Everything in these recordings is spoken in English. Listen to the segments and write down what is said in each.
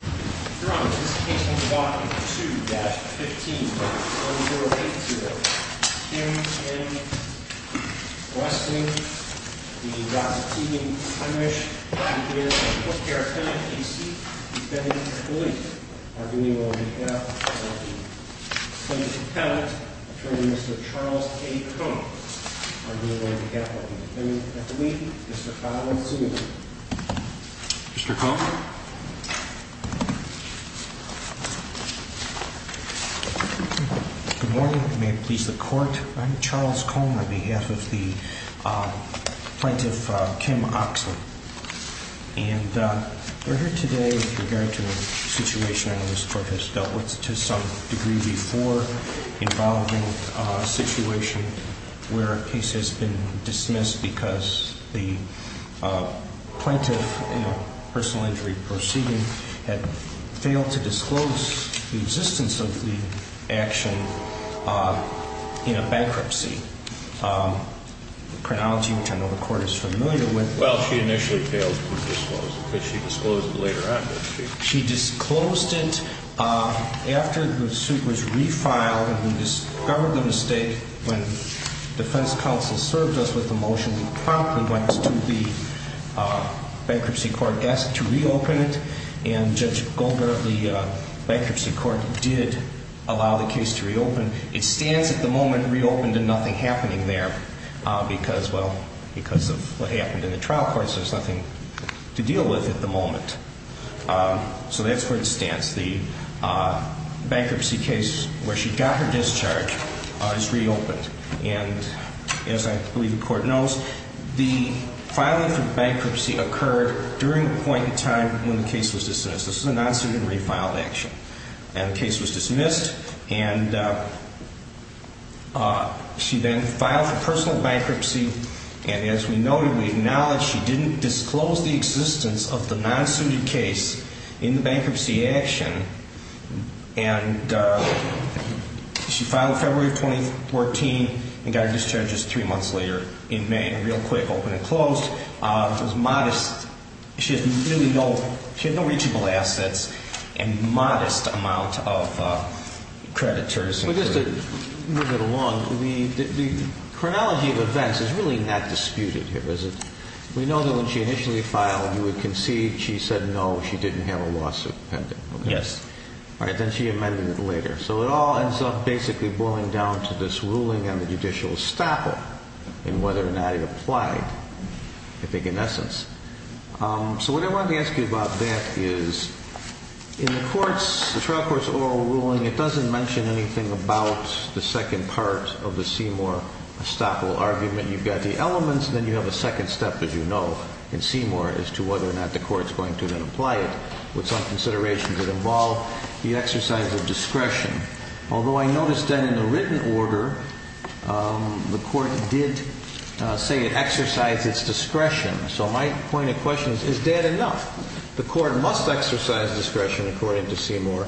Your Honor, this case will be brought to 2-15-4080. Kim M. Westing v. Ross T. Thimesch and his public care attendant, D.C. defendant, police are being on behalf of the defendant's attendant, attorney Mr. Charles A. Cohen, are being on behalf of the defendant and police. Mr. Collins, you may begin. Mr. Cohen. Good morning. May it please the court, I'm Charles Cohen on behalf of the plaintiff, Kim Oechsle. And we're here today with regard to a situation I know this court has dealt with to some degree before involving a situation where a case has been dismissed because the plaintiff in a personal injury proceeding had failed to disclose the existence of the action in a bankruptcy chronology, which I know the court is familiar with. Well, she initially failed to disclose it, but she disclosed it later on, didn't she? She disclosed it after the suit was refiled and we discovered the mistake when defense counsel served us with the motion, we promptly went to the bankruptcy court desk to reopen it and Judge Goldberg of the bankruptcy court did allow the case to reopen. It stands at the moment reopened and nothing happening there because, well, because of what happened in the trial courts, there's nothing to deal with at the moment. So that's where it stands. The bankruptcy case where she got her discharge is reopened. And as I believe the court knows, the filing for bankruptcy occurred during the point in time when the case was dismissed. This was a non-suited and refiled action. And the case was dismissed and she then filed for personal bankruptcy and as we noted, we acknowledge she didn't disclose the existence of the non-suited case in the bankruptcy action and she filed in February of 2014 and got her discharge just three months later in May. Real quick, open and closed. It was modest. She had no reachable assets and modest amount of creditors. Just to move it along, the chronology of events is really not disputed here, is it? We know that when she initially filed, you would concede she said no, she didn't have a lawsuit pending. Yes. All right, then she amended it later. So it all ends up basically boiling down to this ruling on the judicial estoppel and whether or not it applied, I think, in essence. So what I wanted to ask you about that is in the trial court's oral ruling, it doesn't mention anything about the second part of the Seymour estoppel argument. You've got the elements, then you have a second step, as you know, in Seymour as to whether or not the court's going to then apply it with some considerations that involve the exercise of discretion. Although I noticed then in the written order, the court did say it exercised its discretion. So my point of question is, is that enough? The court must exercise discretion, according to Seymour,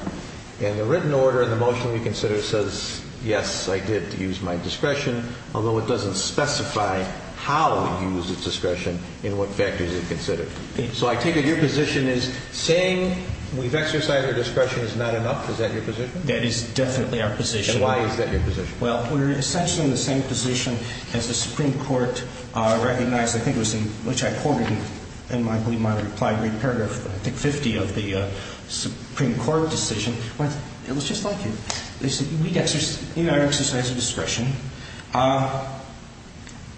and the written order in the motion we consider says, yes, I did use my discretion, although it doesn't specify how it used its discretion in what factors it considered. So I take it your position is, saying we've exercised our discretion is not enough? Is that your position? That is definitely our position. And why is that your position? Well, we're essentially in the same position as the Supreme Court recognized, I think it was in which I quoted in my reply, in paragraph 50 of the Supreme Court decision. It was just like you. They said, we exercised our discretion.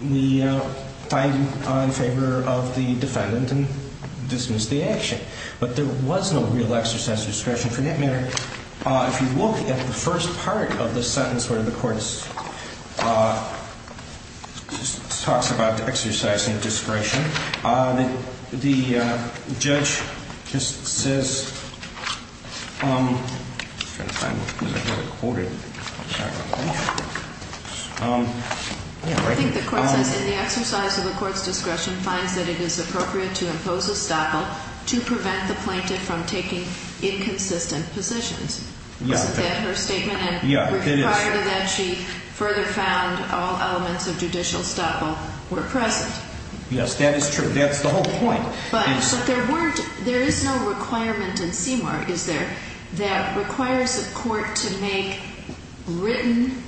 We find you in favor of the defendant and dismiss the action. But there was no real exercise of discretion for that matter. If you look at the first part of the sentence where the court talks about exercising discretion, the judge just says... I think the court says, in the exercise of the court's discretion, finds that it is appropriate to impose estoppel to prevent the plaintiff from taking inconsistent positions. Is that her statement? And prior to that, she further found all elements of judicial estoppel were present. Yes, that is true. That's the whole point. But there is no requirement in CMAR, is there, that requires a court to make written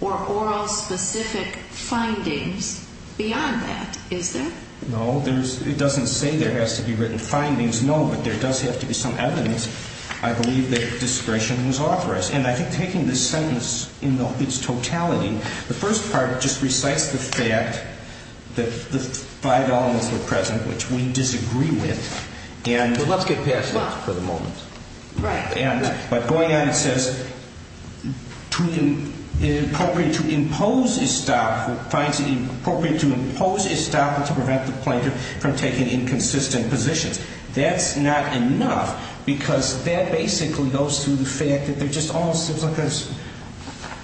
or oral specific findings beyond that, is there? No, it doesn't say there has to be written findings, no. But there does have to be some evidence, I believe, that discretion was authorized. And I think taking this sentence in its totality, the first part just recites the fact that the five elements were present, which we disagree with, and... But let's get past that for the moment. Right. But going on, it says, to impose estoppel, finds it appropriate to impose estoppel to prevent the plaintiff from taking inconsistent positions. That's not enough, because that basically goes through the fact that they're just all...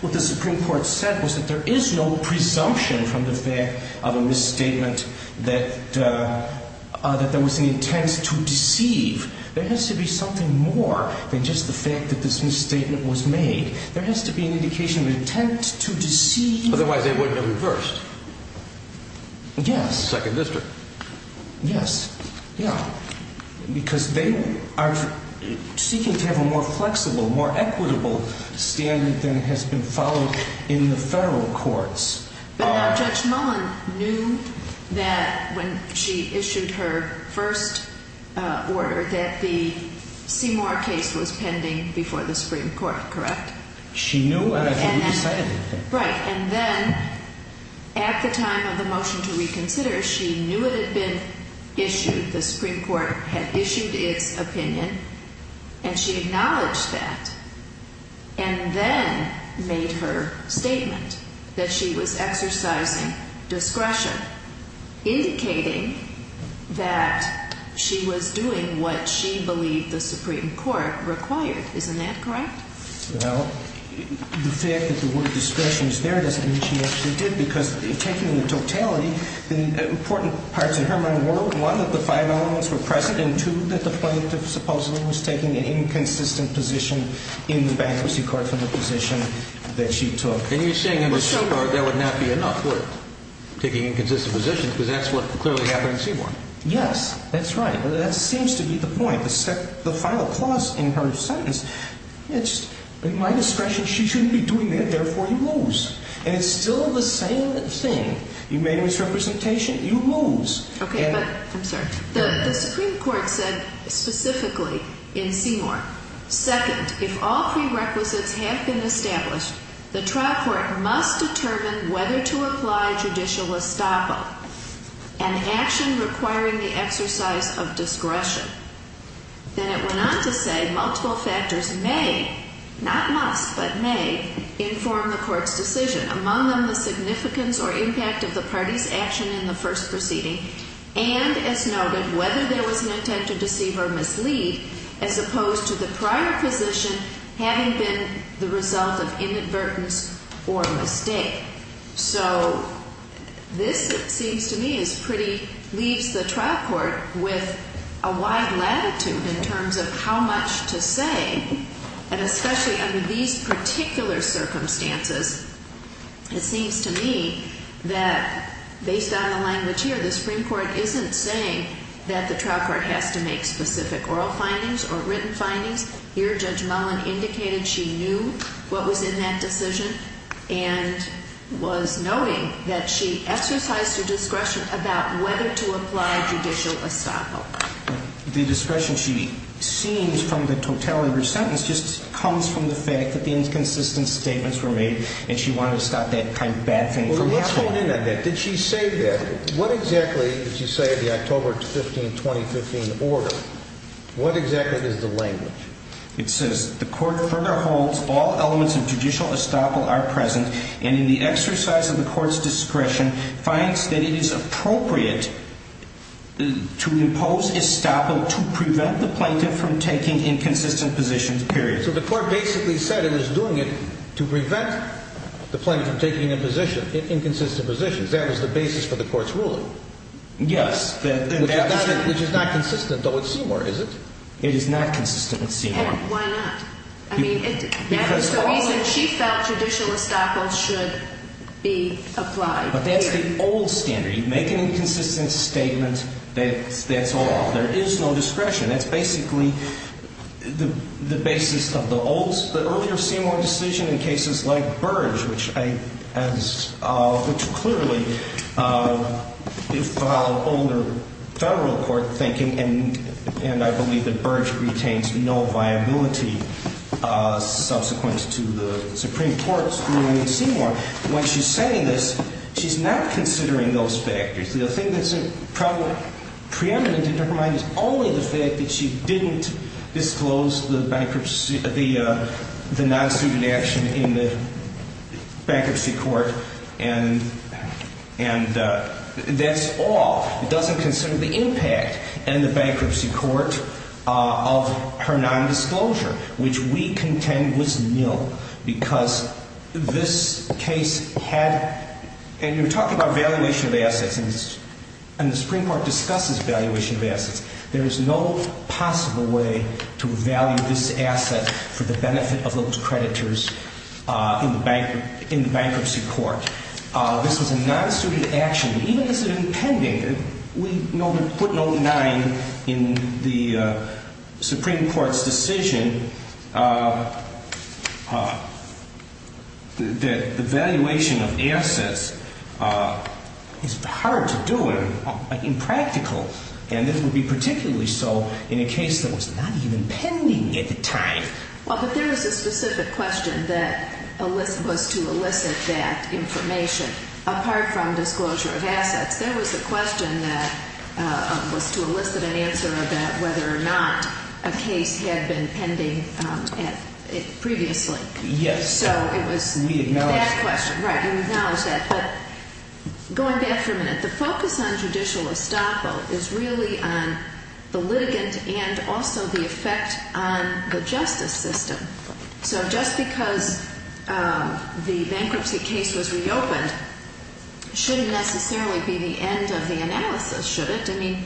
What the Supreme Court said was that there is no presumption from the fact of a misstatement that there was an intent to deceive. There has to be something more than just the fact that this misstatement was made. There has to be an indication of an intent to deceive. Otherwise, they wouldn't have reversed. Yes. Second district. Yes. Yeah. Because they are seeking to have a more flexible, a more equitable standard than has been followed in the federal courts. But now Judge Mullen knew that when she issued her first order that the Seymour case was pending before the Supreme Court, correct? She knew, and I can't really say anything. Right. And then, at the time of the motion to reconsider, she knew it had been issued, the Supreme Court had issued its opinion, and she acknowledged that, and then made her statement that she was exercising discretion, indicating that she was doing what she believed the Supreme Court required. Isn't that correct? Well, the fact that the word discretion is there doesn't mean she actually did, because taking into totality the important parts of her own word, one, that the five elements were present, and two, that the plaintiff supposedly was taking an inconsistent position in bankruptcy court for the position that she took. And you're saying under Seymour that would not be enough, would it? Taking inconsistent positions, because that's what clearly happened in Seymour. Yes, that's right. That seems to be the point. The final clause in her sentence, it's my discretion she shouldn't be doing that, therefore you lose. And it's still the same thing. You made a misrepresentation, you lose. Okay, but, I'm sorry. The Supreme Court said specifically in Seymour, second, if all prerequisites have been established, the trial court must determine whether to apply judicial estoppel, an action requiring the exercise of discretion. Then it went on to say multiple factors may, not must, but may, inform the court's decision, among them the significance or impact of the party's action in the first proceeding, and, as noted, whether there was an intent to deceive or mislead, as opposed to the prior position having been the result of inadvertence or mistake. So, this seems to me is pretty, leaves the trial court with a wide latitude in terms of how much to say, and especially under these particular circumstances. It seems to me that, based on the language here, the Supreme Court isn't saying that the trial court has to make specific oral findings or written findings. Here, Judge Mullen indicated she knew what was in that decision and was noting that she exercised her discretion about whether to apply judicial estoppel. The discretion she seems from the totality of her sentence just comes from the fact that the inconsistent statements were made and she wanted to stop that kind of bad thing from happening. Well, let's hold in on that. Did she say that? What exactly did she say in the October 15, 2015 order? What exactly is the language? It says, the court further holds all elements of judicial estoppel are present and in the exercise of the court's discretion finds that it is appropriate to impose estoppel to prevent the plaintiff from taking inconsistent positions, period. So, the court basically said it was doing it to prevent the plaintiff from taking inconsistent positions. That was the basis for the court's ruling. Yes. Which is not consistent, though, with Seymour, is it? It is not consistent with Seymour. And why not? I mean, that was the reason she felt judicial estoppel should be applied. But that's the old standard. You make an inconsistent statement, that's all. There is no discretion. That's basically the basis of the earlier Seymour decision in cases like Burge, which clearly followed older federal court thinking, and I believe that Burge retains no viability subsequent to the Supreme Court's ruling in Seymour. When she's saying this, she's not considering those factors. The thing that's preeminent in her mind is only the fact that she didn't disclose the non-suited action in the bankruptcy court, and that's all. It doesn't consider the impact in the bankruptcy court of her non-disclosure, which we contend was nil, because this case had, and you're talking about valuation of assets, and the Supreme Court discusses valuation of assets. There is no possible way to value this asset for the benefit of those creditors in the bankruptcy court. This was a non-suited action. Even this is impending. We put note 9 in the Supreme Court's decision that the valuation of assets is hard to do and impractical, and this would be particularly so in a case that was not even pending at the time. Well, but there was a specific question that was to elicit that information. Apart from disclosure of assets, there was a question that was to elicit an answer about whether or not a case had been pending previously. Yes. So it was that question. We acknowledge that. Right, we acknowledge that. But going back for a minute, the focus on judicial estoppel is really on the litigant and also the effect on the justice system. So just because the bankruptcy case was reopened shouldn't necessarily be the end of the analysis, should it? I mean,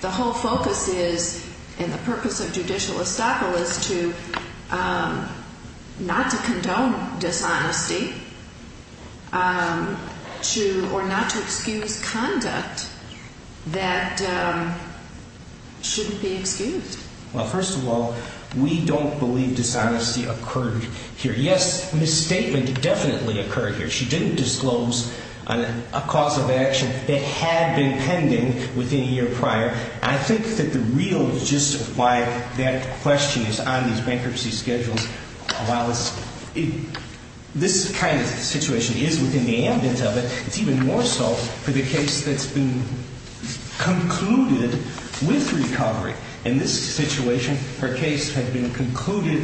the whole focus is, and the purpose of judicial estoppel is to, not to condone dishonesty, or not to excuse conduct that shouldn't be excused. Well, first of all, we don't believe dishonesty occurred here. Yes, misstatement definitely occurred here. She didn't disclose a cause of action that had been pending within a year prior. I think that the real gist of why that question is on these bankruptcy schedules, is while this kind of situation is within the ambit of it, it's even more so for the case that's been concluded with recovery. In this situation, her case had been concluded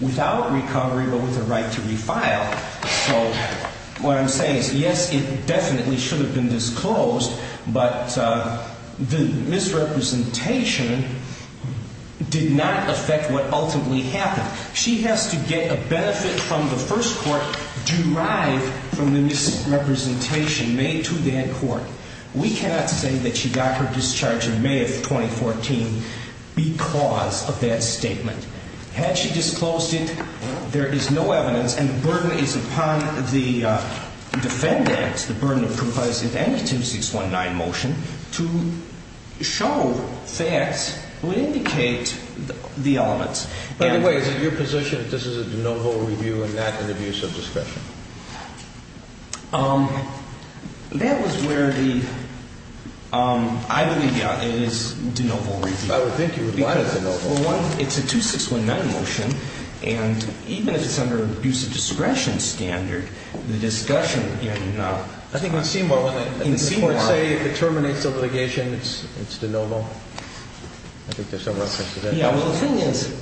without recovery but with a right to refile. So what I'm saying is, yes, it definitely should have been disclosed, but the misrepresentation did not affect what ultimately happened. She has to get a benefit from the first court derived from the misrepresentation made to that court. We cannot say that she got her discharge in May of 2014 because of that statement. Had she disclosed it, there is no evidence, and the burden is upon the defendants, the burden of compliance with any 2619 motion, to show facts that would indicate the elements. By the way, is it your position that this is a de novo review and not an abuse of discretion? That was where the... I believe, yeah, it is de novo review. I would think you would lie to me. Well, one, it's a 2619 motion, and even if it's under an abuse of discretion standard, the discussion would be, I do not... I think in Seymour, when the courts say it terminates the litigation, it's de novo. I think there's some reference to that. Yeah, well, the thing is,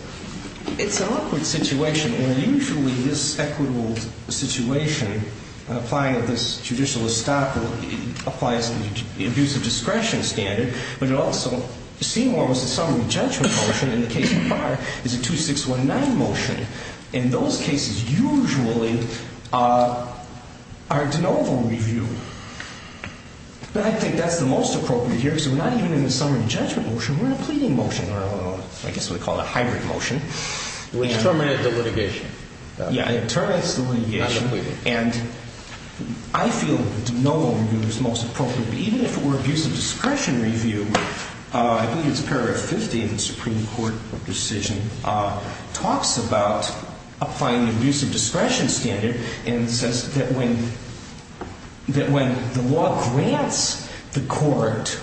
it's an awkward situation where usually this equitable situation applying of this judicial estoppel applies to the abuse of discretion standard, but it also... Seymour was a summary judgment motion, and the case so far is a 2619 motion, and those cases usually are de novo review. But I think that's the most appropriate here because we're not even in a summary judgment motion, we're in a pleading motion, or I guess we call it a hybrid motion. Which terminates the litigation. Yeah, it terminates the litigation, and I feel de novo review is most appropriate, but even if it were abuse of discretion review, I believe it's paragraph 50 of the Supreme Court decision, talks about applying the abuse of discretion standard and says that when the law grants the court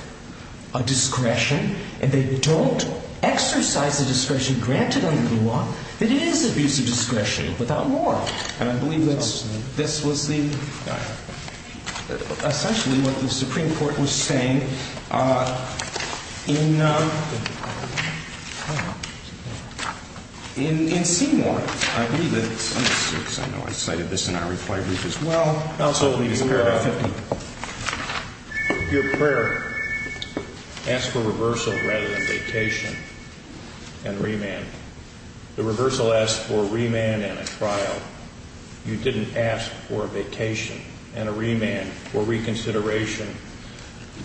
a discretion and they don't exercise the discretion granted under the law, it is abuse of discretion without more. And I believe that this was the... essentially what the Supreme Court was saying in Seymour. I believe that... I know I cited this in our reply brief as well. Counsel, your prayer asked for reversal rather than vacation and remand. The reversal asked for remand and a trial. You didn't ask for vacation and a remand or reconsideration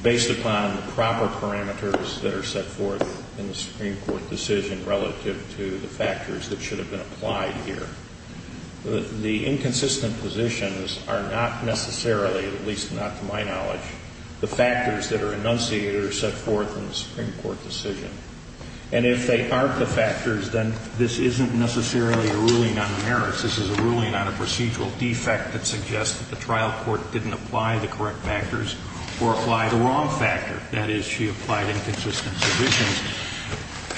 based upon the proper parameters that are set forth in the Supreme Court decision relative to the factors that should have been applied here. The inconsistent positions are not necessarily, at least not to my knowledge, the factors that are enunciated or set forth in the Supreme Court decision. And if they aren't the factors, then this isn't necessarily a ruling on merits. This is a ruling on a procedural defect that suggests that the trial court didn't apply the correct factors or apply the wrong factor. That is, she applied inconsistent submissions,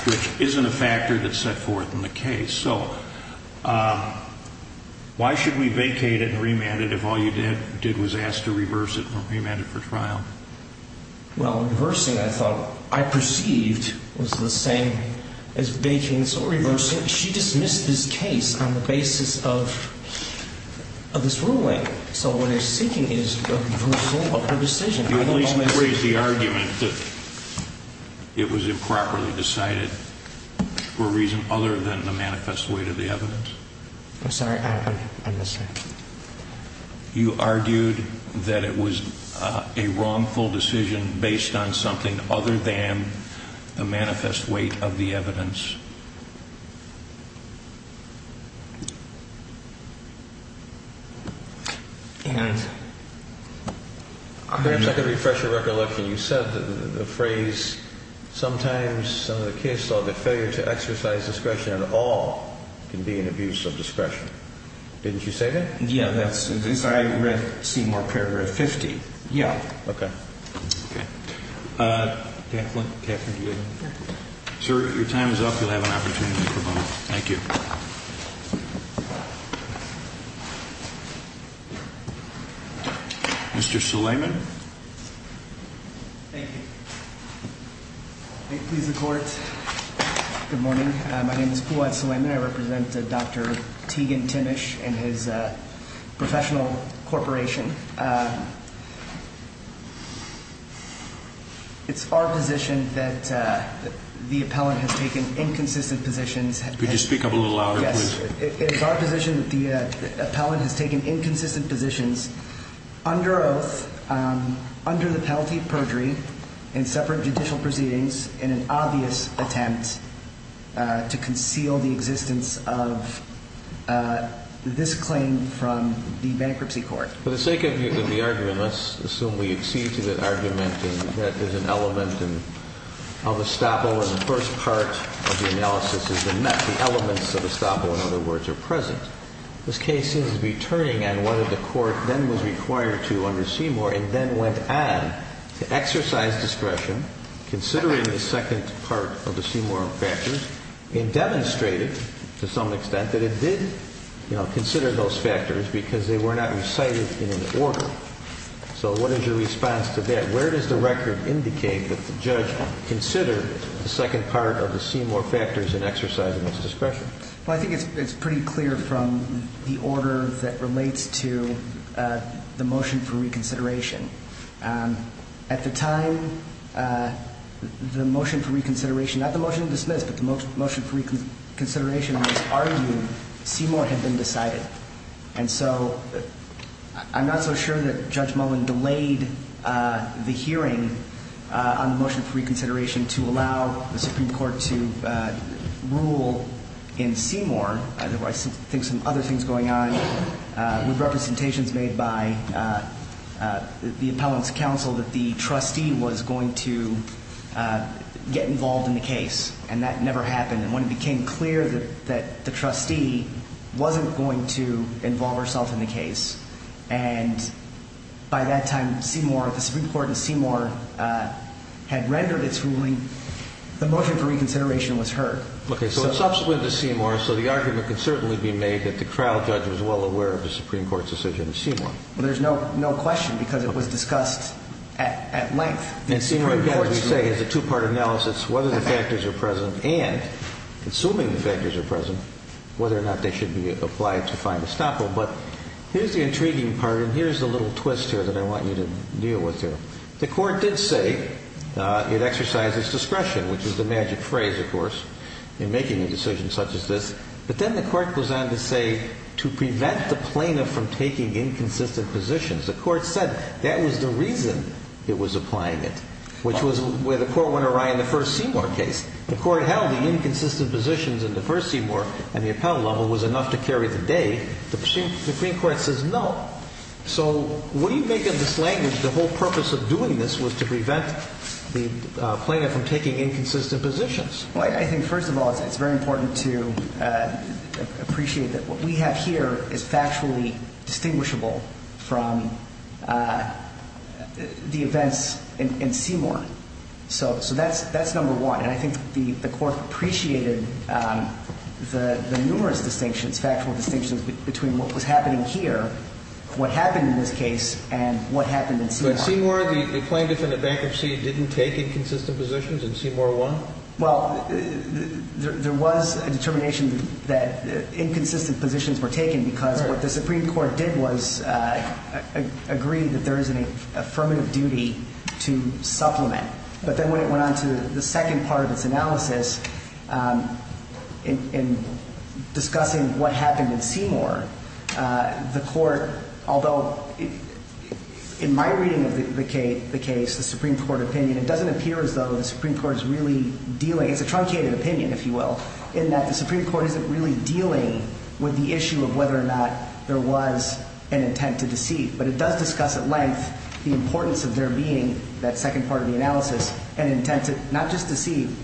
which isn't a factor that's set forth in the case. So why should we vacate it and remand it if all you did was ask to reverse it or remand it for trial? Well, reversing, I thought, I perceived was the same as vacating. So reversing, she dismissed this case on the basis of this ruling. So what they're seeking is a reversal of her decision. At least you raised the argument that it was improperly decided for a reason other than the manifest weight of the evidence. I'm sorry, I misheard. You argued that it was a wrongful decision based on something other than the manifest weight of the evidence. And... Perhaps I could refresh your recollection. You said the phrase, Didn't you say that? Yeah, I read Seymour Paragraph 50. Yeah. Okay. Catherine, do you have anything? Sir, your time is up. You'll have an opportunity for a moment. Thank you. Mr. Suleiman. Thank you. May it please the Court. Good morning. My name is Puad Suleiman. I represent Dr. Teagan Timmish and his professional corporation. It's our position that the appellant has taken inconsistent positions. Could you speak up a little louder, please? It is our position that the appellant has taken inconsistent positions under oath, under the penalty of perjury, in separate judicial proceedings, in an obvious attempt to conceal the existence of this claim from the bankruptcy court. For the sake of the argument, let's assume we accede to that argument and that there's an element of estoppel in the first part of the analysis has been met, the elements of estoppel, in other words, are present. This case seems to be turning on whether the court then was required to under Seymour and then went on to exercise discretion, considering the second part of the Seymour factors, and demonstrated to some extent that it did consider those factors because they were not recited in an order. So what is your response to that? Where does the record indicate that the judge considered the second part of the Seymour factors in exercising its discretion? Well, I think it's pretty clear from the order that relates to the motion for reconsideration. At the time, the motion for reconsideration, not the motion to dismiss, but the motion for reconsideration was argued, Seymour had been decided. And so I'm not so sure that Judge Mullen delayed the hearing on the motion for reconsideration to allow the Supreme Court to rule in Seymour. I think some other things going on with representations made by the appellant's counsel that the trustee was going to get involved in the case, and that never happened. And when it became clear that the trustee wasn't going to involve herself in the case, and by that time Seymour, the Supreme Court in Seymour, had rendered its ruling, the motion for reconsideration was heard. Okay, so it's subsequent to Seymour, so the argument can certainly be made that the trial judge was well aware of the Supreme Court's decision in Seymour. Well, there's no question because it was discussed at length. And Seymour, as we say, has a two-part analysis, whether the factors are present and, assuming the factors are present, whether or not they should be applied to find estoppel. But here's the intriguing part, and here's the little twist here that I want you to deal with here. The court did say it exercises discretion, which is the magic phrase, of course, in making a decision such as this. But then the court goes on to say to prevent the plaintiff from taking inconsistent positions. The court said that was the reason it was applying it, which was where the court went awry in the first Seymour case. The court held the inconsistent positions in the first Seymour and the appellate level was enough to carry the day. The Supreme Court says no. So what do you make of this language? The whole purpose of doing this was to prevent the plaintiff from taking inconsistent positions. Well, I think, first of all, it's very important to appreciate that what we have here is factually distinguishable from the events in Seymour. So that's number one. And I think the court appreciated the numerous distinctions, factual distinctions between what was happening here, what happened in this case, and what happened in Seymour. But Seymour, the plaintiff in the bankruptcy didn't take inconsistent positions in Seymour 1? Well, there was a determination that inconsistent positions were taken because what the Supreme Court did was agree that there is an affirmative duty to supplement. But then when it went on to the second part of its analysis in discussing what happened in Seymour, the court, although in my reading of the case, the Supreme Court opinion, it doesn't appear as though the Supreme Court is really dealing, it's a truncated opinion, if you will, in that the Supreme Court isn't really dealing with the issue of whether or not there was an intent to deceive. But it does discuss at length the importance of there being that second part of the analysis, an intent to not just deceive,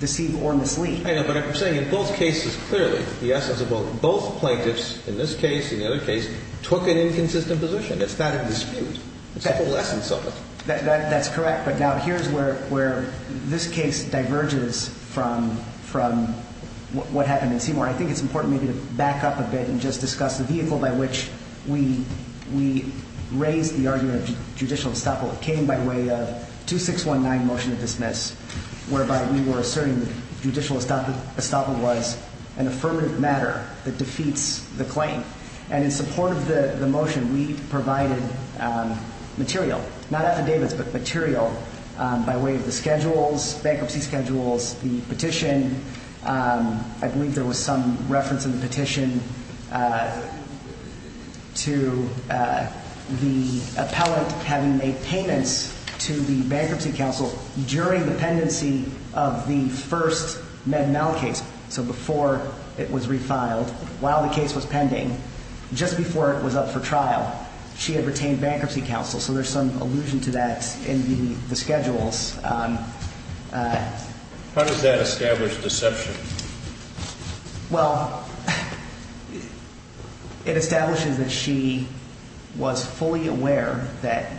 deceive or mislead. I know, but I'm saying in both cases, clearly, the essence of both plaintiffs in this case and the other case took an inconsistent position. It's not a dispute. It's a whole essence of it. That's correct. But now here's where this case diverges from what happened in Seymour. I think it's important maybe to back up a bit and just discuss the vehicle by which we raised the argument of judicial estoppel. It came by way of 2619 motion to dismiss, whereby we were asserting that judicial estoppel was an affirmative matter that defeats the claim. And in support of the motion, we provided material, not affidavits, but material by way of the schedules, bankruptcy schedules, the petition. I believe there was some reference in the petition to the appellant having made payments to the Bankruptcy Council during the pendency of the first Med-Mal case. So before it was refiled, while the case was pending, just before it was up for trial, she had retained Bankruptcy Council. So there's some allusion to that in the schedules. How does that establish deception? Well, it establishes that she was fully aware that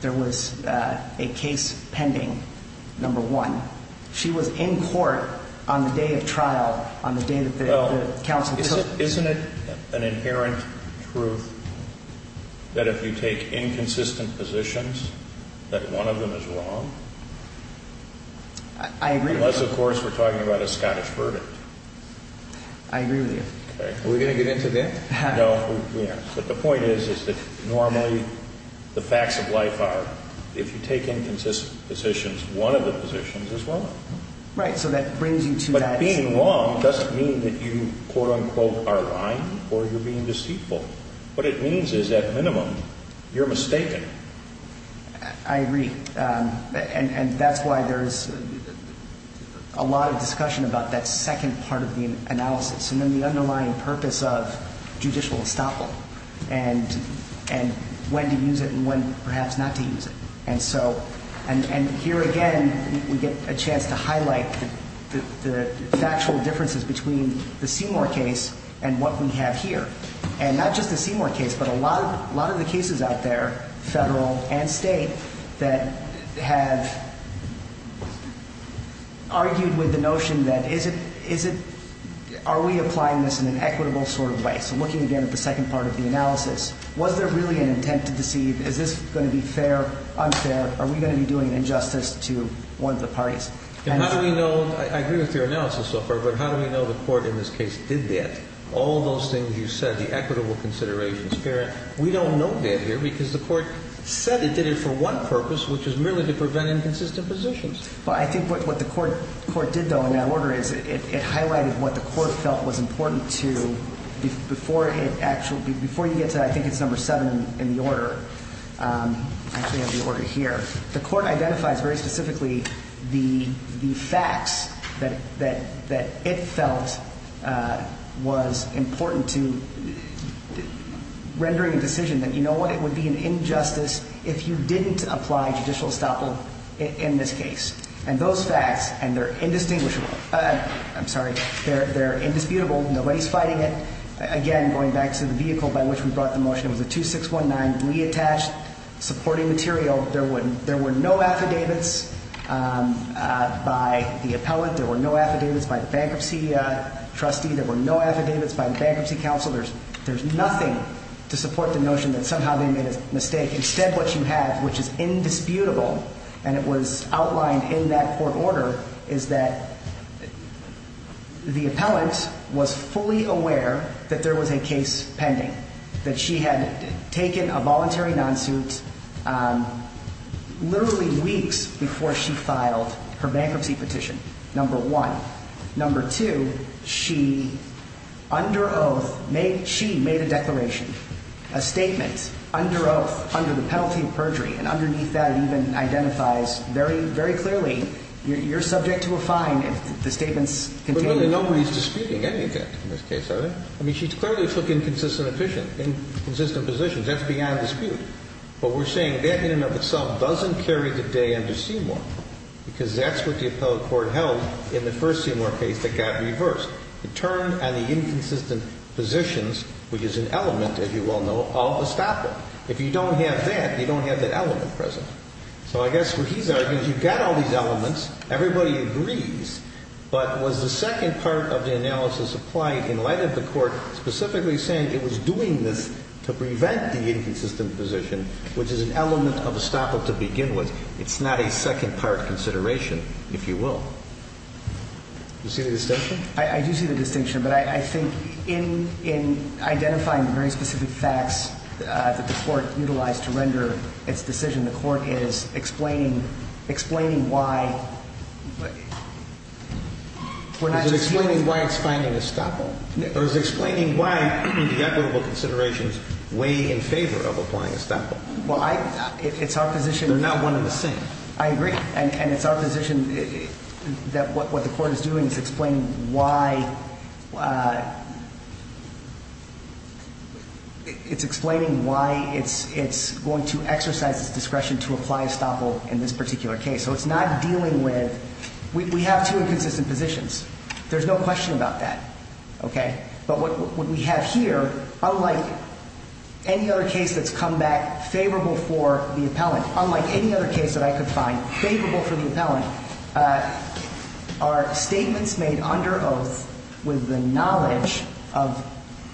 there was a case pending, number one. She was in court on the day of trial, on the day that the counsel took the case. Isn't it an inherent truth that if you take inconsistent positions, that one of them is wrong? I agree with you. Unless, of course, we're talking about a Scottish verdict. I agree with you. Are we going to get into that? No, we aren't. But the point is, is that normally the facts of life are, if you take inconsistent positions, one of the positions is wrong. Right, so that brings you to that. Being wrong doesn't mean that you, quote, unquote, are lying or you're being deceitful. What it means is, at minimum, you're mistaken. I agree, and that's why there's a lot of discussion about that second part of the analysis and then the underlying purpose of judicial estoppel and when to use it and when perhaps not to use it. Here again, we get a chance to highlight the factual differences between the Seymour case and what we have here. Not just the Seymour case, but a lot of the cases out there, federal and state, that have argued with the notion that are we applying this in an equitable sort of way? So looking again at the second part of the analysis, was there really an intent to deceive? Is this going to be fair, unfair? Are we going to be doing an injustice to one of the parties? And how do we know? I agree with your analysis so far, but how do we know the court in this case did that? All those things you said, the equitable consideration spirit, we don't know that here because the court said it did it for one purpose, which is merely to prevent inconsistent positions. Well, I think what the court did, though, in that order is it highlighted what the court felt was important to, before you get to, I think it's number seven in the order, I actually have the order here, the court identifies very specifically the facts that it felt was important to rendering a decision that you know what, it would be an injustice if you didn't apply judicial estoppel in this case. And those facts, and they're indistinguishable, I'm sorry, they're indisputable. Nobody's fighting it. Again, going back to the vehicle by which we brought the motion, it was a 2619 reattached supporting material. There were no affidavits by the appellate. There were no affidavits by the bankruptcy trustee. There were no affidavits by the bankruptcy counsel. There's nothing to support the notion that somehow they made a mistake. Instead, what you have, which is indisputable, and it was outlined in that court order, is that the appellant was fully aware that there was a case pending, that she had taken a voluntary non-suit literally weeks before she filed her bankruptcy petition, number one. Number two, she, under oath, she made a declaration, a statement, under oath, under the penalty of perjury. And underneath that, it even identifies very, very clearly, you're subject to a fine if the statement's contained. Nobody's disputing any of that in this case, are they? I mean, she clearly took inconsistent positions. That's beyond dispute. But we're saying that in and of itself doesn't carry today under Seymour, because that's what the appellate court held in the first Seymour case that got reversed. It turned on the inconsistent positions, which is an element, as you well know, of estoppel. If you don't have that, you don't have that element present. So I guess what he's arguing is you've got all these elements. Everybody agrees. But was the second part of the analysis applied in light of the court specifically saying it was doing this to prevent the inconsistent position, which is an element of estoppel to begin with? It's not a second-part consideration, if you will. Do you see the distinction? I do see the distinction. But I think in identifying the very specific facts that the court utilized to render its decision, the court is explaining why we're not just using it. Is it explaining why it's finding estoppel? Or is it explaining why the equitable considerations weigh in favor of applying estoppel? Well, I – it's our position. They're not one and the same. I agree. And it's our position that what the court is doing is explaining why – it's explaining why it's going to exercise its discretion to apply estoppel in this particular case. So it's not dealing with – we have two inconsistent positions. There's no question about that. Okay? But what we have here, unlike any other case that's come back favorable for the appellant, unlike any other case that I could find favorable for the appellant, are statements made under oath with the knowledge of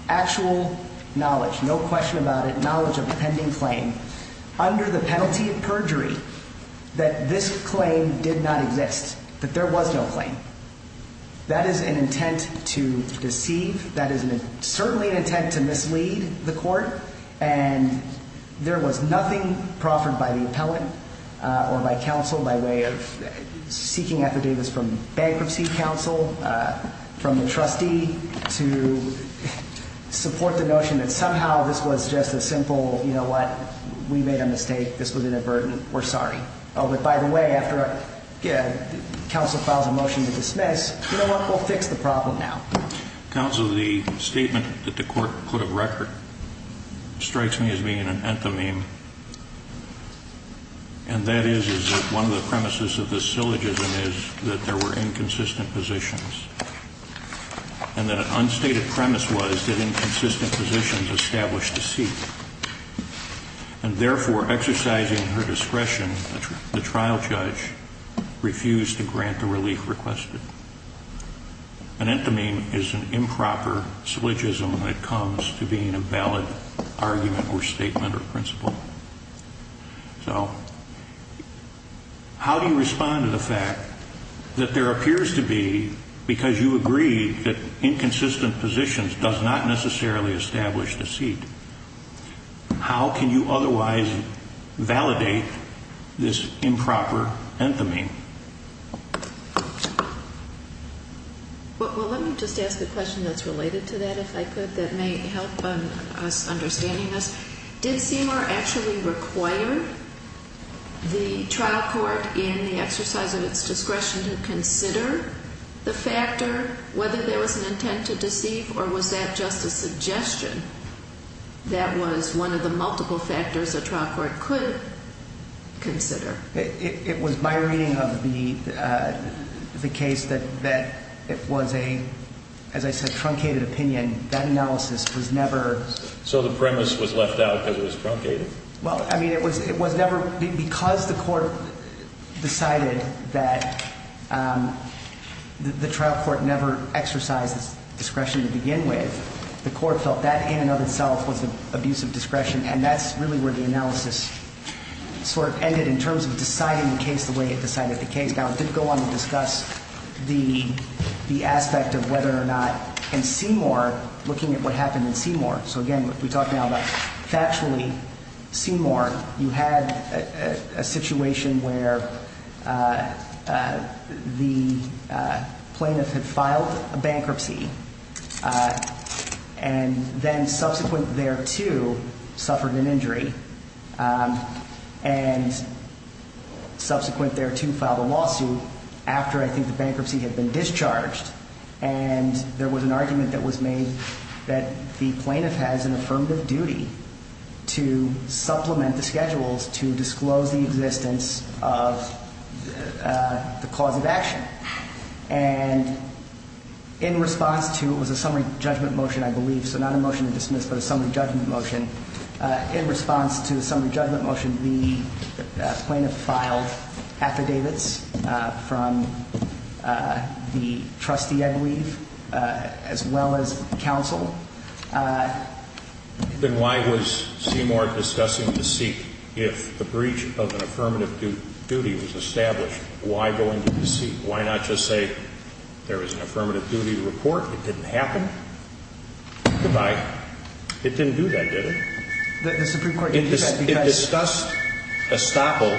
actual knowledge, no question about it, knowledge of the pending claim, under the penalty of perjury, that this claim did not exist, that there was no claim. That is an intent to deceive. That is certainly an intent to mislead the court. And there was nothing proffered by the appellant or by counsel by way of seeking affidavits from bankruptcy counsel, from the trustee to support the notion that somehow this was just a simple, you know what, we made a mistake, this was inadvertent, we're sorry. Oh, but by the way, after counsel files a motion to dismiss, you know what, we'll fix the problem now. Counsel, the statement that the court put of record strikes me as being an anthememe, and that is that one of the premises of this syllogism is that there were inconsistent positions, and that an unstated premise was that inconsistent positions established deceit, and therefore exercising her discretion, the trial judge refused to grant the relief requested. An anthememe is an improper syllogism when it comes to being a valid argument or statement or principle. So how do you respond to the fact that there appears to be, because you agree that inconsistent positions does not necessarily establish deceit, how can you otherwise validate this improper anthememe? Well, let me just ask a question that's related to that, if I could, that may help us understanding this. Did Seymour actually require the trial court in the exercise of its discretion to consider the factor, whether there was an intent to deceive, or was that just a suggestion? That was one of the multiple factors a trial court could consider. It was my reading of the case that it was a, as I said, truncated opinion. That analysis was never- So the premise was left out because it was truncated? Well, I mean, it was never, because the court decided that the trial court never exercised its discretion to begin with, the court felt that in and of itself was an abuse of discretion, and that's really where the analysis sort of ended in terms of deciding the case the way it decided the case. I would go on to discuss the aspect of whether or not in Seymour, looking at what happened in Seymour, so again, we're talking about factually Seymour, you had a situation where the plaintiff had filed a bankruptcy, and then subsequent thereto suffered an injury, and subsequent thereto filed a lawsuit after I think the bankruptcy had been discharged, and there was an argument that was made that the plaintiff has an affirmative duty to supplement the schedules to disclose the existence of the cause of action. And in response to, it was a summary judgment motion, I believe, so not a motion to dismiss, but a summary judgment motion, in response to the summary judgment motion, the plaintiff filed affidavits from the trustee, I believe, as well as counsel. Then why was Seymour discussing deceit? If the breach of an affirmative duty was established, why go into deceit? Why not just say there was an affirmative duty to report, it didn't happen? Goodbye. It didn't do that, did it? The Supreme Court did that because It discussed estoppel,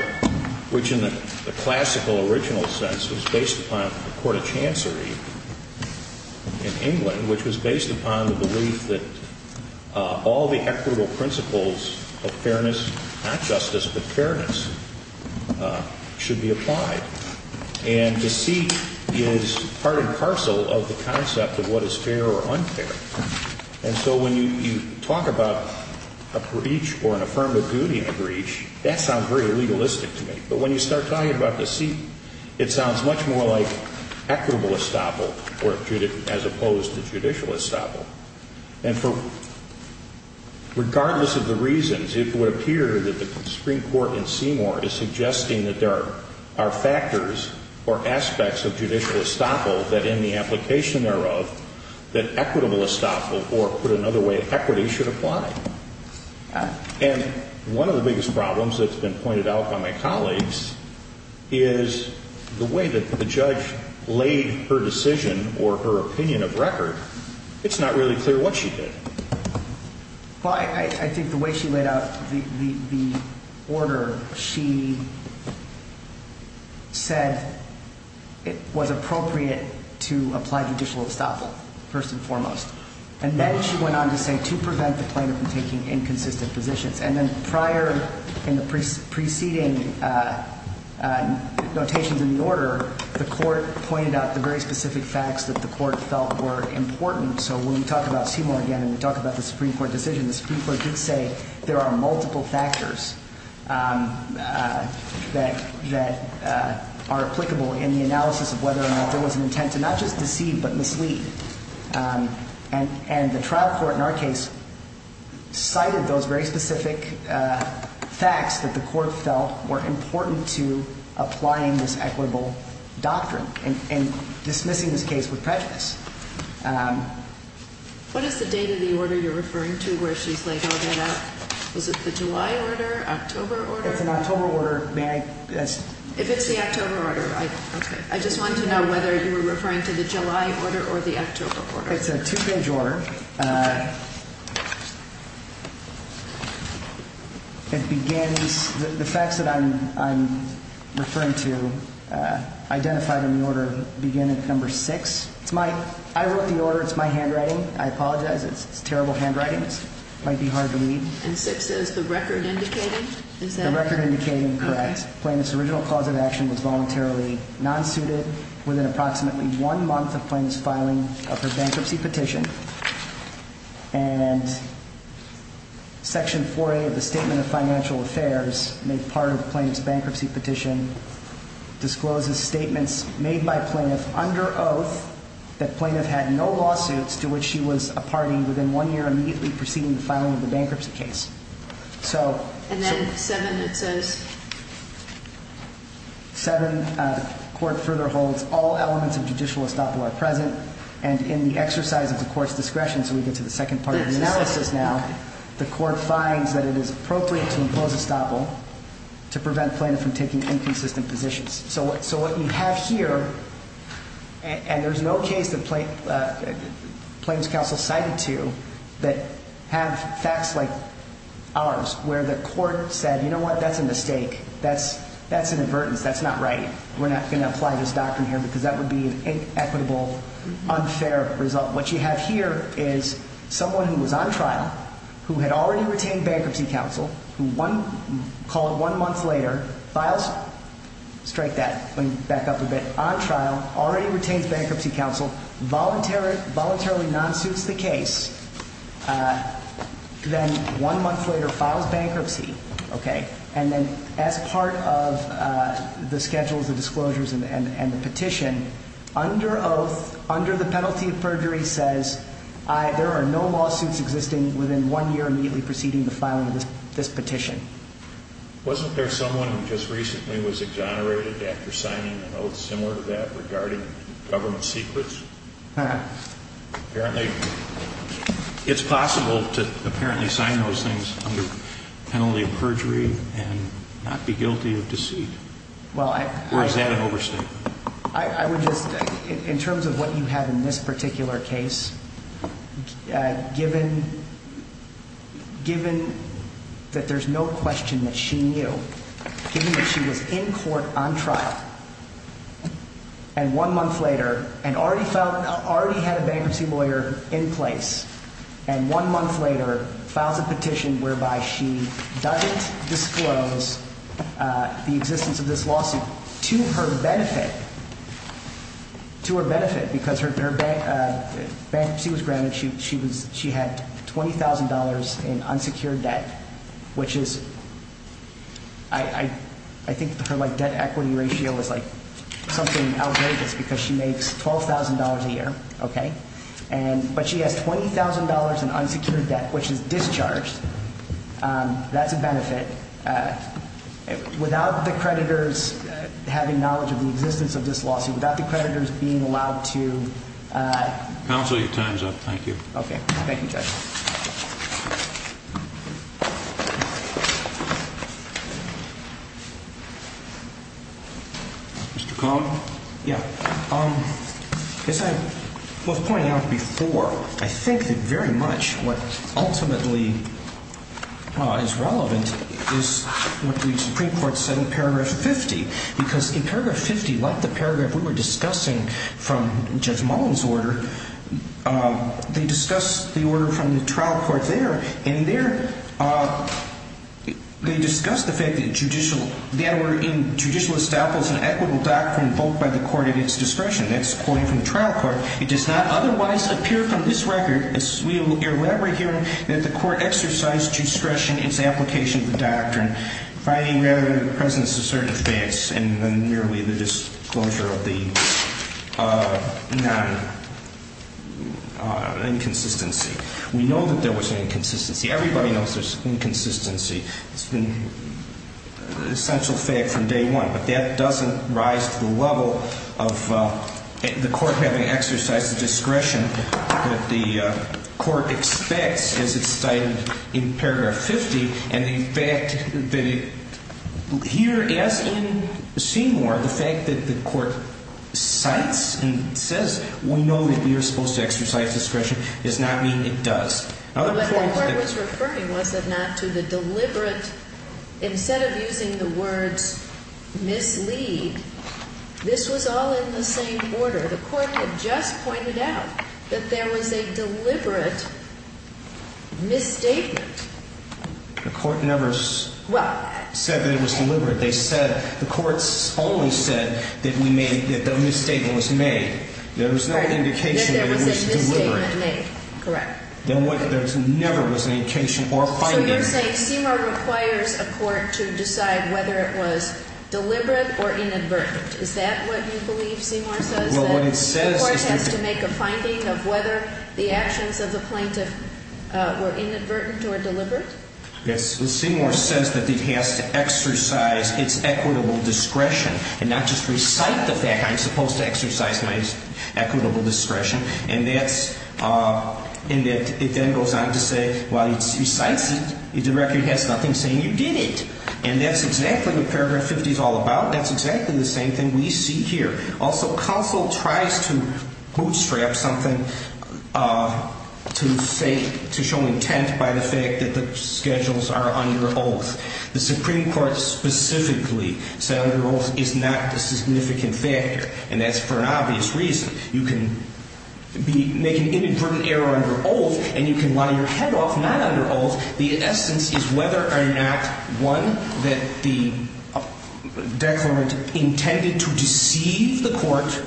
which in the classical original sense was based upon the court of chancery in England, which was based upon the belief that all the equitable principles of fairness, not justice, but fairness, should be applied. And deceit is part and parcel of the concept of what is fair or unfair. And so when you talk about a breach or an affirmative duty in a breach, that sounds very legalistic to me. But when you start talking about deceit, it sounds much more like equitable estoppel as opposed to judicial estoppel. And regardless of the reasons, it would appear that the Supreme Court in Seymour is suggesting that there are factors or aspects of judicial estoppel that in the application thereof, that equitable estoppel, or put another way, equity, should apply. And one of the biggest problems that's been pointed out by my colleagues is the way that the judge laid her decision or her opinion of record, it's not really clear what she did. Well, I think the way she laid out the order, she said it was appropriate to apply judicial estoppel first and foremost. And then she went on to say to prevent the plaintiff from taking inconsistent positions. And then prior in the preceding notations in the order, the court pointed out the very specific facts that the court felt were important. So when we talk about Seymour again and we talk about the Supreme Court decision, the Supreme Court did say there are multiple factors that are applicable in the analysis of whether or not there was an intent to not just deceive but mislead. And the trial court in our case cited those very specific facts that the court felt were important to applying this equitable doctrine and dismissing this case with prejudice. What is the date of the order you're referring to where she's laid all that out? Was it the July order, October order? It's an October order. If it's the October order, okay. I just wanted to know whether you were referring to the July order or the October order. It's a two-page order. Okay. The facts that I'm referring to identified in the order begin at number six. I wrote the order. It's my handwriting. I apologize. It's terrible handwriting. It might be hard to read. And six is the record indicating? The record indicating, correct. Plaintiff's original cause of action was voluntarily non-suited within approximately one month of plaintiff's filing of her bankruptcy petition. And section 4A of the Statement of Financial Affairs made part of the plaintiff's bankruptcy petition discloses statements made by plaintiff under oath that plaintiff had no lawsuits to which she was a party within one year immediately preceding the filing of the bankruptcy case. And then seven, it says? Seven, the court further holds all elements of judicial estoppel are present. And in the exercise of the court's discretion, so we get to the second part of the analysis now, the court finds that it is appropriate to impose estoppel to prevent plaintiff from taking inconsistent positions. So what you have here, and there's no case that Plaintiff's Counsel cited to that have facts like ours, where the court said, you know what? That's a mistake. That's an avertance. That's not right. We're not going to apply this doctrine here because that would be an inequitable, unfair result. What you have here is someone who was on trial, who had already retained bankruptcy counsel, who one, call it one month later, files, strike that, let me back up a bit, on trial, already retains bankruptcy counsel, voluntarily non-suits the case, then one month later files bankruptcy, okay, and then as part of the schedules, the disclosures, and the petition, under oath, under the penalty of perjury says, there are no lawsuits existing within one year immediately preceding the filing of this petition. Wasn't there someone who just recently was exonerated after signing an oath similar to that regarding government secrets? Apparently, it's possible to apparently sign those things under penalty of perjury and not be guilty of deceit. Well, I. Or is that an overstatement? I would just, in terms of what you have in this particular case, given that there's no question that she knew, given that she was in court on trial, and one month later, and already had a bankruptcy lawyer in place, and one month later files a petition whereby she doesn't disclose the existence of this lawsuit to her benefit, to her benefit because her bankruptcy was granted, she had $20,000 in unsecured debt, which is, I think her debt equity ratio is something outrageous because she makes $12,000 a year, okay? But she has $20,000 in unsecured debt, which is discharged. That's a benefit. Without the creditors having knowledge of the existence of this lawsuit, without the creditors being allowed to. Counsel, your time's up. Thank you. Okay. Thank you, Judge. Mr. Coleman? Yeah. As I was pointing out before, I think that very much what ultimately is relevant is what the Supreme Court said in Paragraph 50 because in Paragraph 50, like the paragraph we were discussing from Judge Mullin's order, they discuss the order from the trial court there, and in there, they discuss the fact that the order in judicial establishment is an equitable doctrine invoked by the court at its discretion. That's quoting from the trial court. It does not otherwise appear from this record, as we will elaborate here, that the court exercised discretion in its application of the doctrine, finding rather than the presence of certain facts and merely the disclosure of the non-inconsistency. We know that there was an inconsistency. Everybody knows there's inconsistency. It's been an essential fact from day one, but that doesn't rise to the level of the court having exercised the discretion that the court expects, as it's cited in Paragraph 50, and the fact that here, as in Seymour, the fact that the court cites and says, we know that you're supposed to exercise discretion does not mean it does. What the court was referring was, if not to the deliberate, instead of using the words mislead, this was all in the same order. The court had just pointed out that there was a deliberate misstatement. The court never said that it was deliberate. The court only said that the misstatement was made. There was no indication that it was deliberate. That there was a misstatement made. Correct. There never was an indication or finding. So you're saying Seymour requires a court to decide whether it was deliberate or inadvertent. Is that what you believe Seymour says? The court has to make a finding of whether the actions of the plaintiff were inadvertent or deliberate? Yes. Seymour says that it has to exercise its equitable discretion and not just recite the fact I'm supposed to exercise my equitable discretion. And it then goes on to say, well, it recites it. The record has nothing saying you did it. And that's exactly what Paragraph 50 is all about. That's exactly the same thing we see here. Also, counsel tries to bootstrap something to show intent by the fact that the schedules are under oath. The Supreme Court specifically said under oath is not a significant factor. And that's for an obvious reason. You can make an inadvertent error under oath and you can lie your head off not under oath. The essence is whether or not, one, that the declarant intended to deceive the court,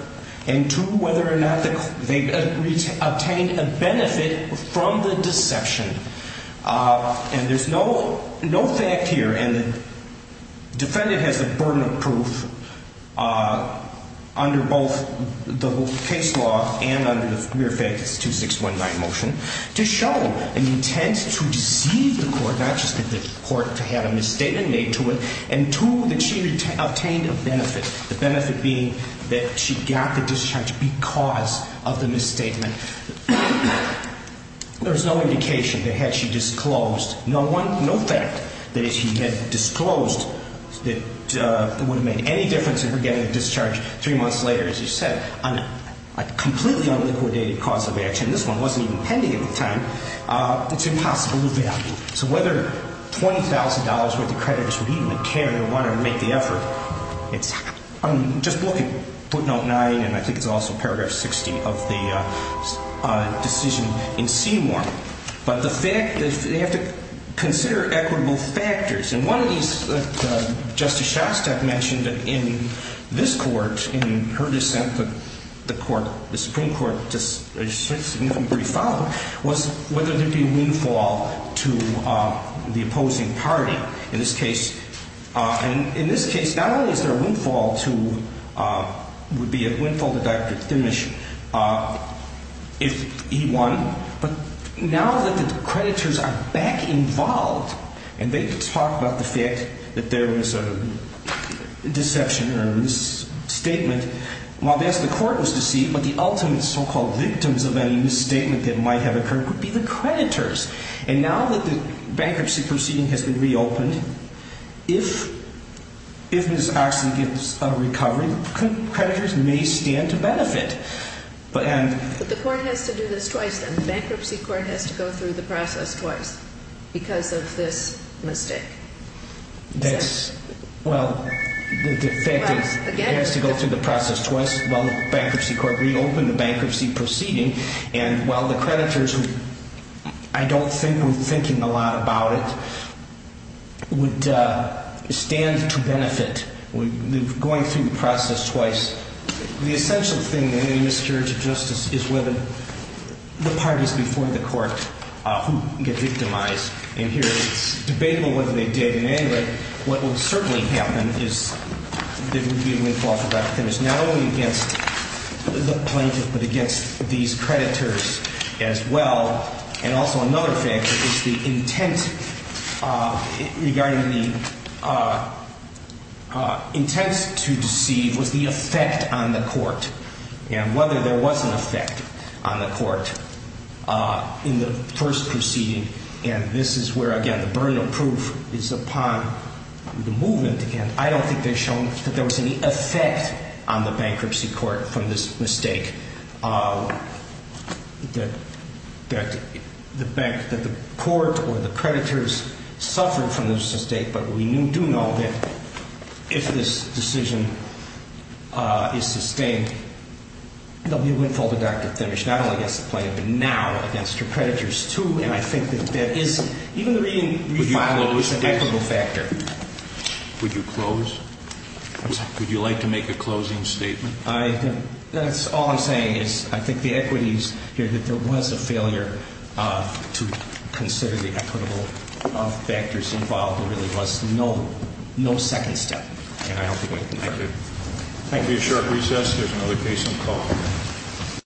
and two, whether or not they obtained a benefit from the deception. And there's no fact here. And the defendant has the burden of proof under both the case law and under the mere fact it's 2619 motion to show an intent to deceive the court, not just that the court had a misstatement made to it, and two, that she obtained a benefit, the benefit being that she got the discharge because of the misstatement. There's no indication that had she disclosed, no fact that if she had disclosed that it would have made any difference if we're getting a discharge three months later, as you said, on a completely unliquidated cause of action, this one wasn't even pending at the time, it's impossible to value. So whether $20,000 worth of creditors would even care to want to make the effort, I'm just looking at footnote nine and I think it's also paragraph 60 of the decision in Seymour. But the fact that they have to consider equitable factors. And one of these that Justice Shostak mentioned in this court, in her dissent, the Supreme Court, just a significant brief follow-up, was whether there'd be windfall to the opposing party. In this case, not only is there windfall to, would be a windfall to Dr. Thimmes if he won, but now that the creditors are back involved and they can talk about the fact that there was a deception or a misstatement, well, the court was deceived, but the ultimate so-called victims of any misstatement that might have occurred would be the creditors. And now that the bankruptcy proceeding has been reopened, if Ms. Oxley gets a recovery, the creditors may stand to benefit. But the court has to do this twice then, the bankruptcy court has to go through the process twice because of this mistake. Well, the defective has to go through the process twice while the bankruptcy court reopened the bankruptcy proceeding. And while the creditors, who I don't think were thinking a lot about it, would stand to benefit going through the process twice. The essential thing in any miscarriage of justice is whether the parties before the court who get victimized, and here it's debatable whether they did in any way, what would certainly happen is there would be a windfall for Dr. Thimmes, not only against the plaintiff, but against these creditors as well. And also another factor is the intent regarding the intent to deceive was the effect on the court and whether there was an effect on the court in the first proceeding. And this is where, again, the burden of proof is upon the movement. Again, I don't think they've shown that there was any effect on the bankruptcy court from this mistake that the court or the creditors suffered from this mistake. But we do know that if this decision is sustained, there will be a windfall to Dr. Thimmes, not only against the plaintiff, but now against her creditors too. And I think that that is, even the re-filing is an equitable factor. Would you close? I'm sorry? Would you like to make a closing statement? That's all I'm saying is I think the equity is that there was a failure to consider the equitable factors involved. There really was no second step. Thank you. Thank you. Thank you. We have a short recess. There's another case on call.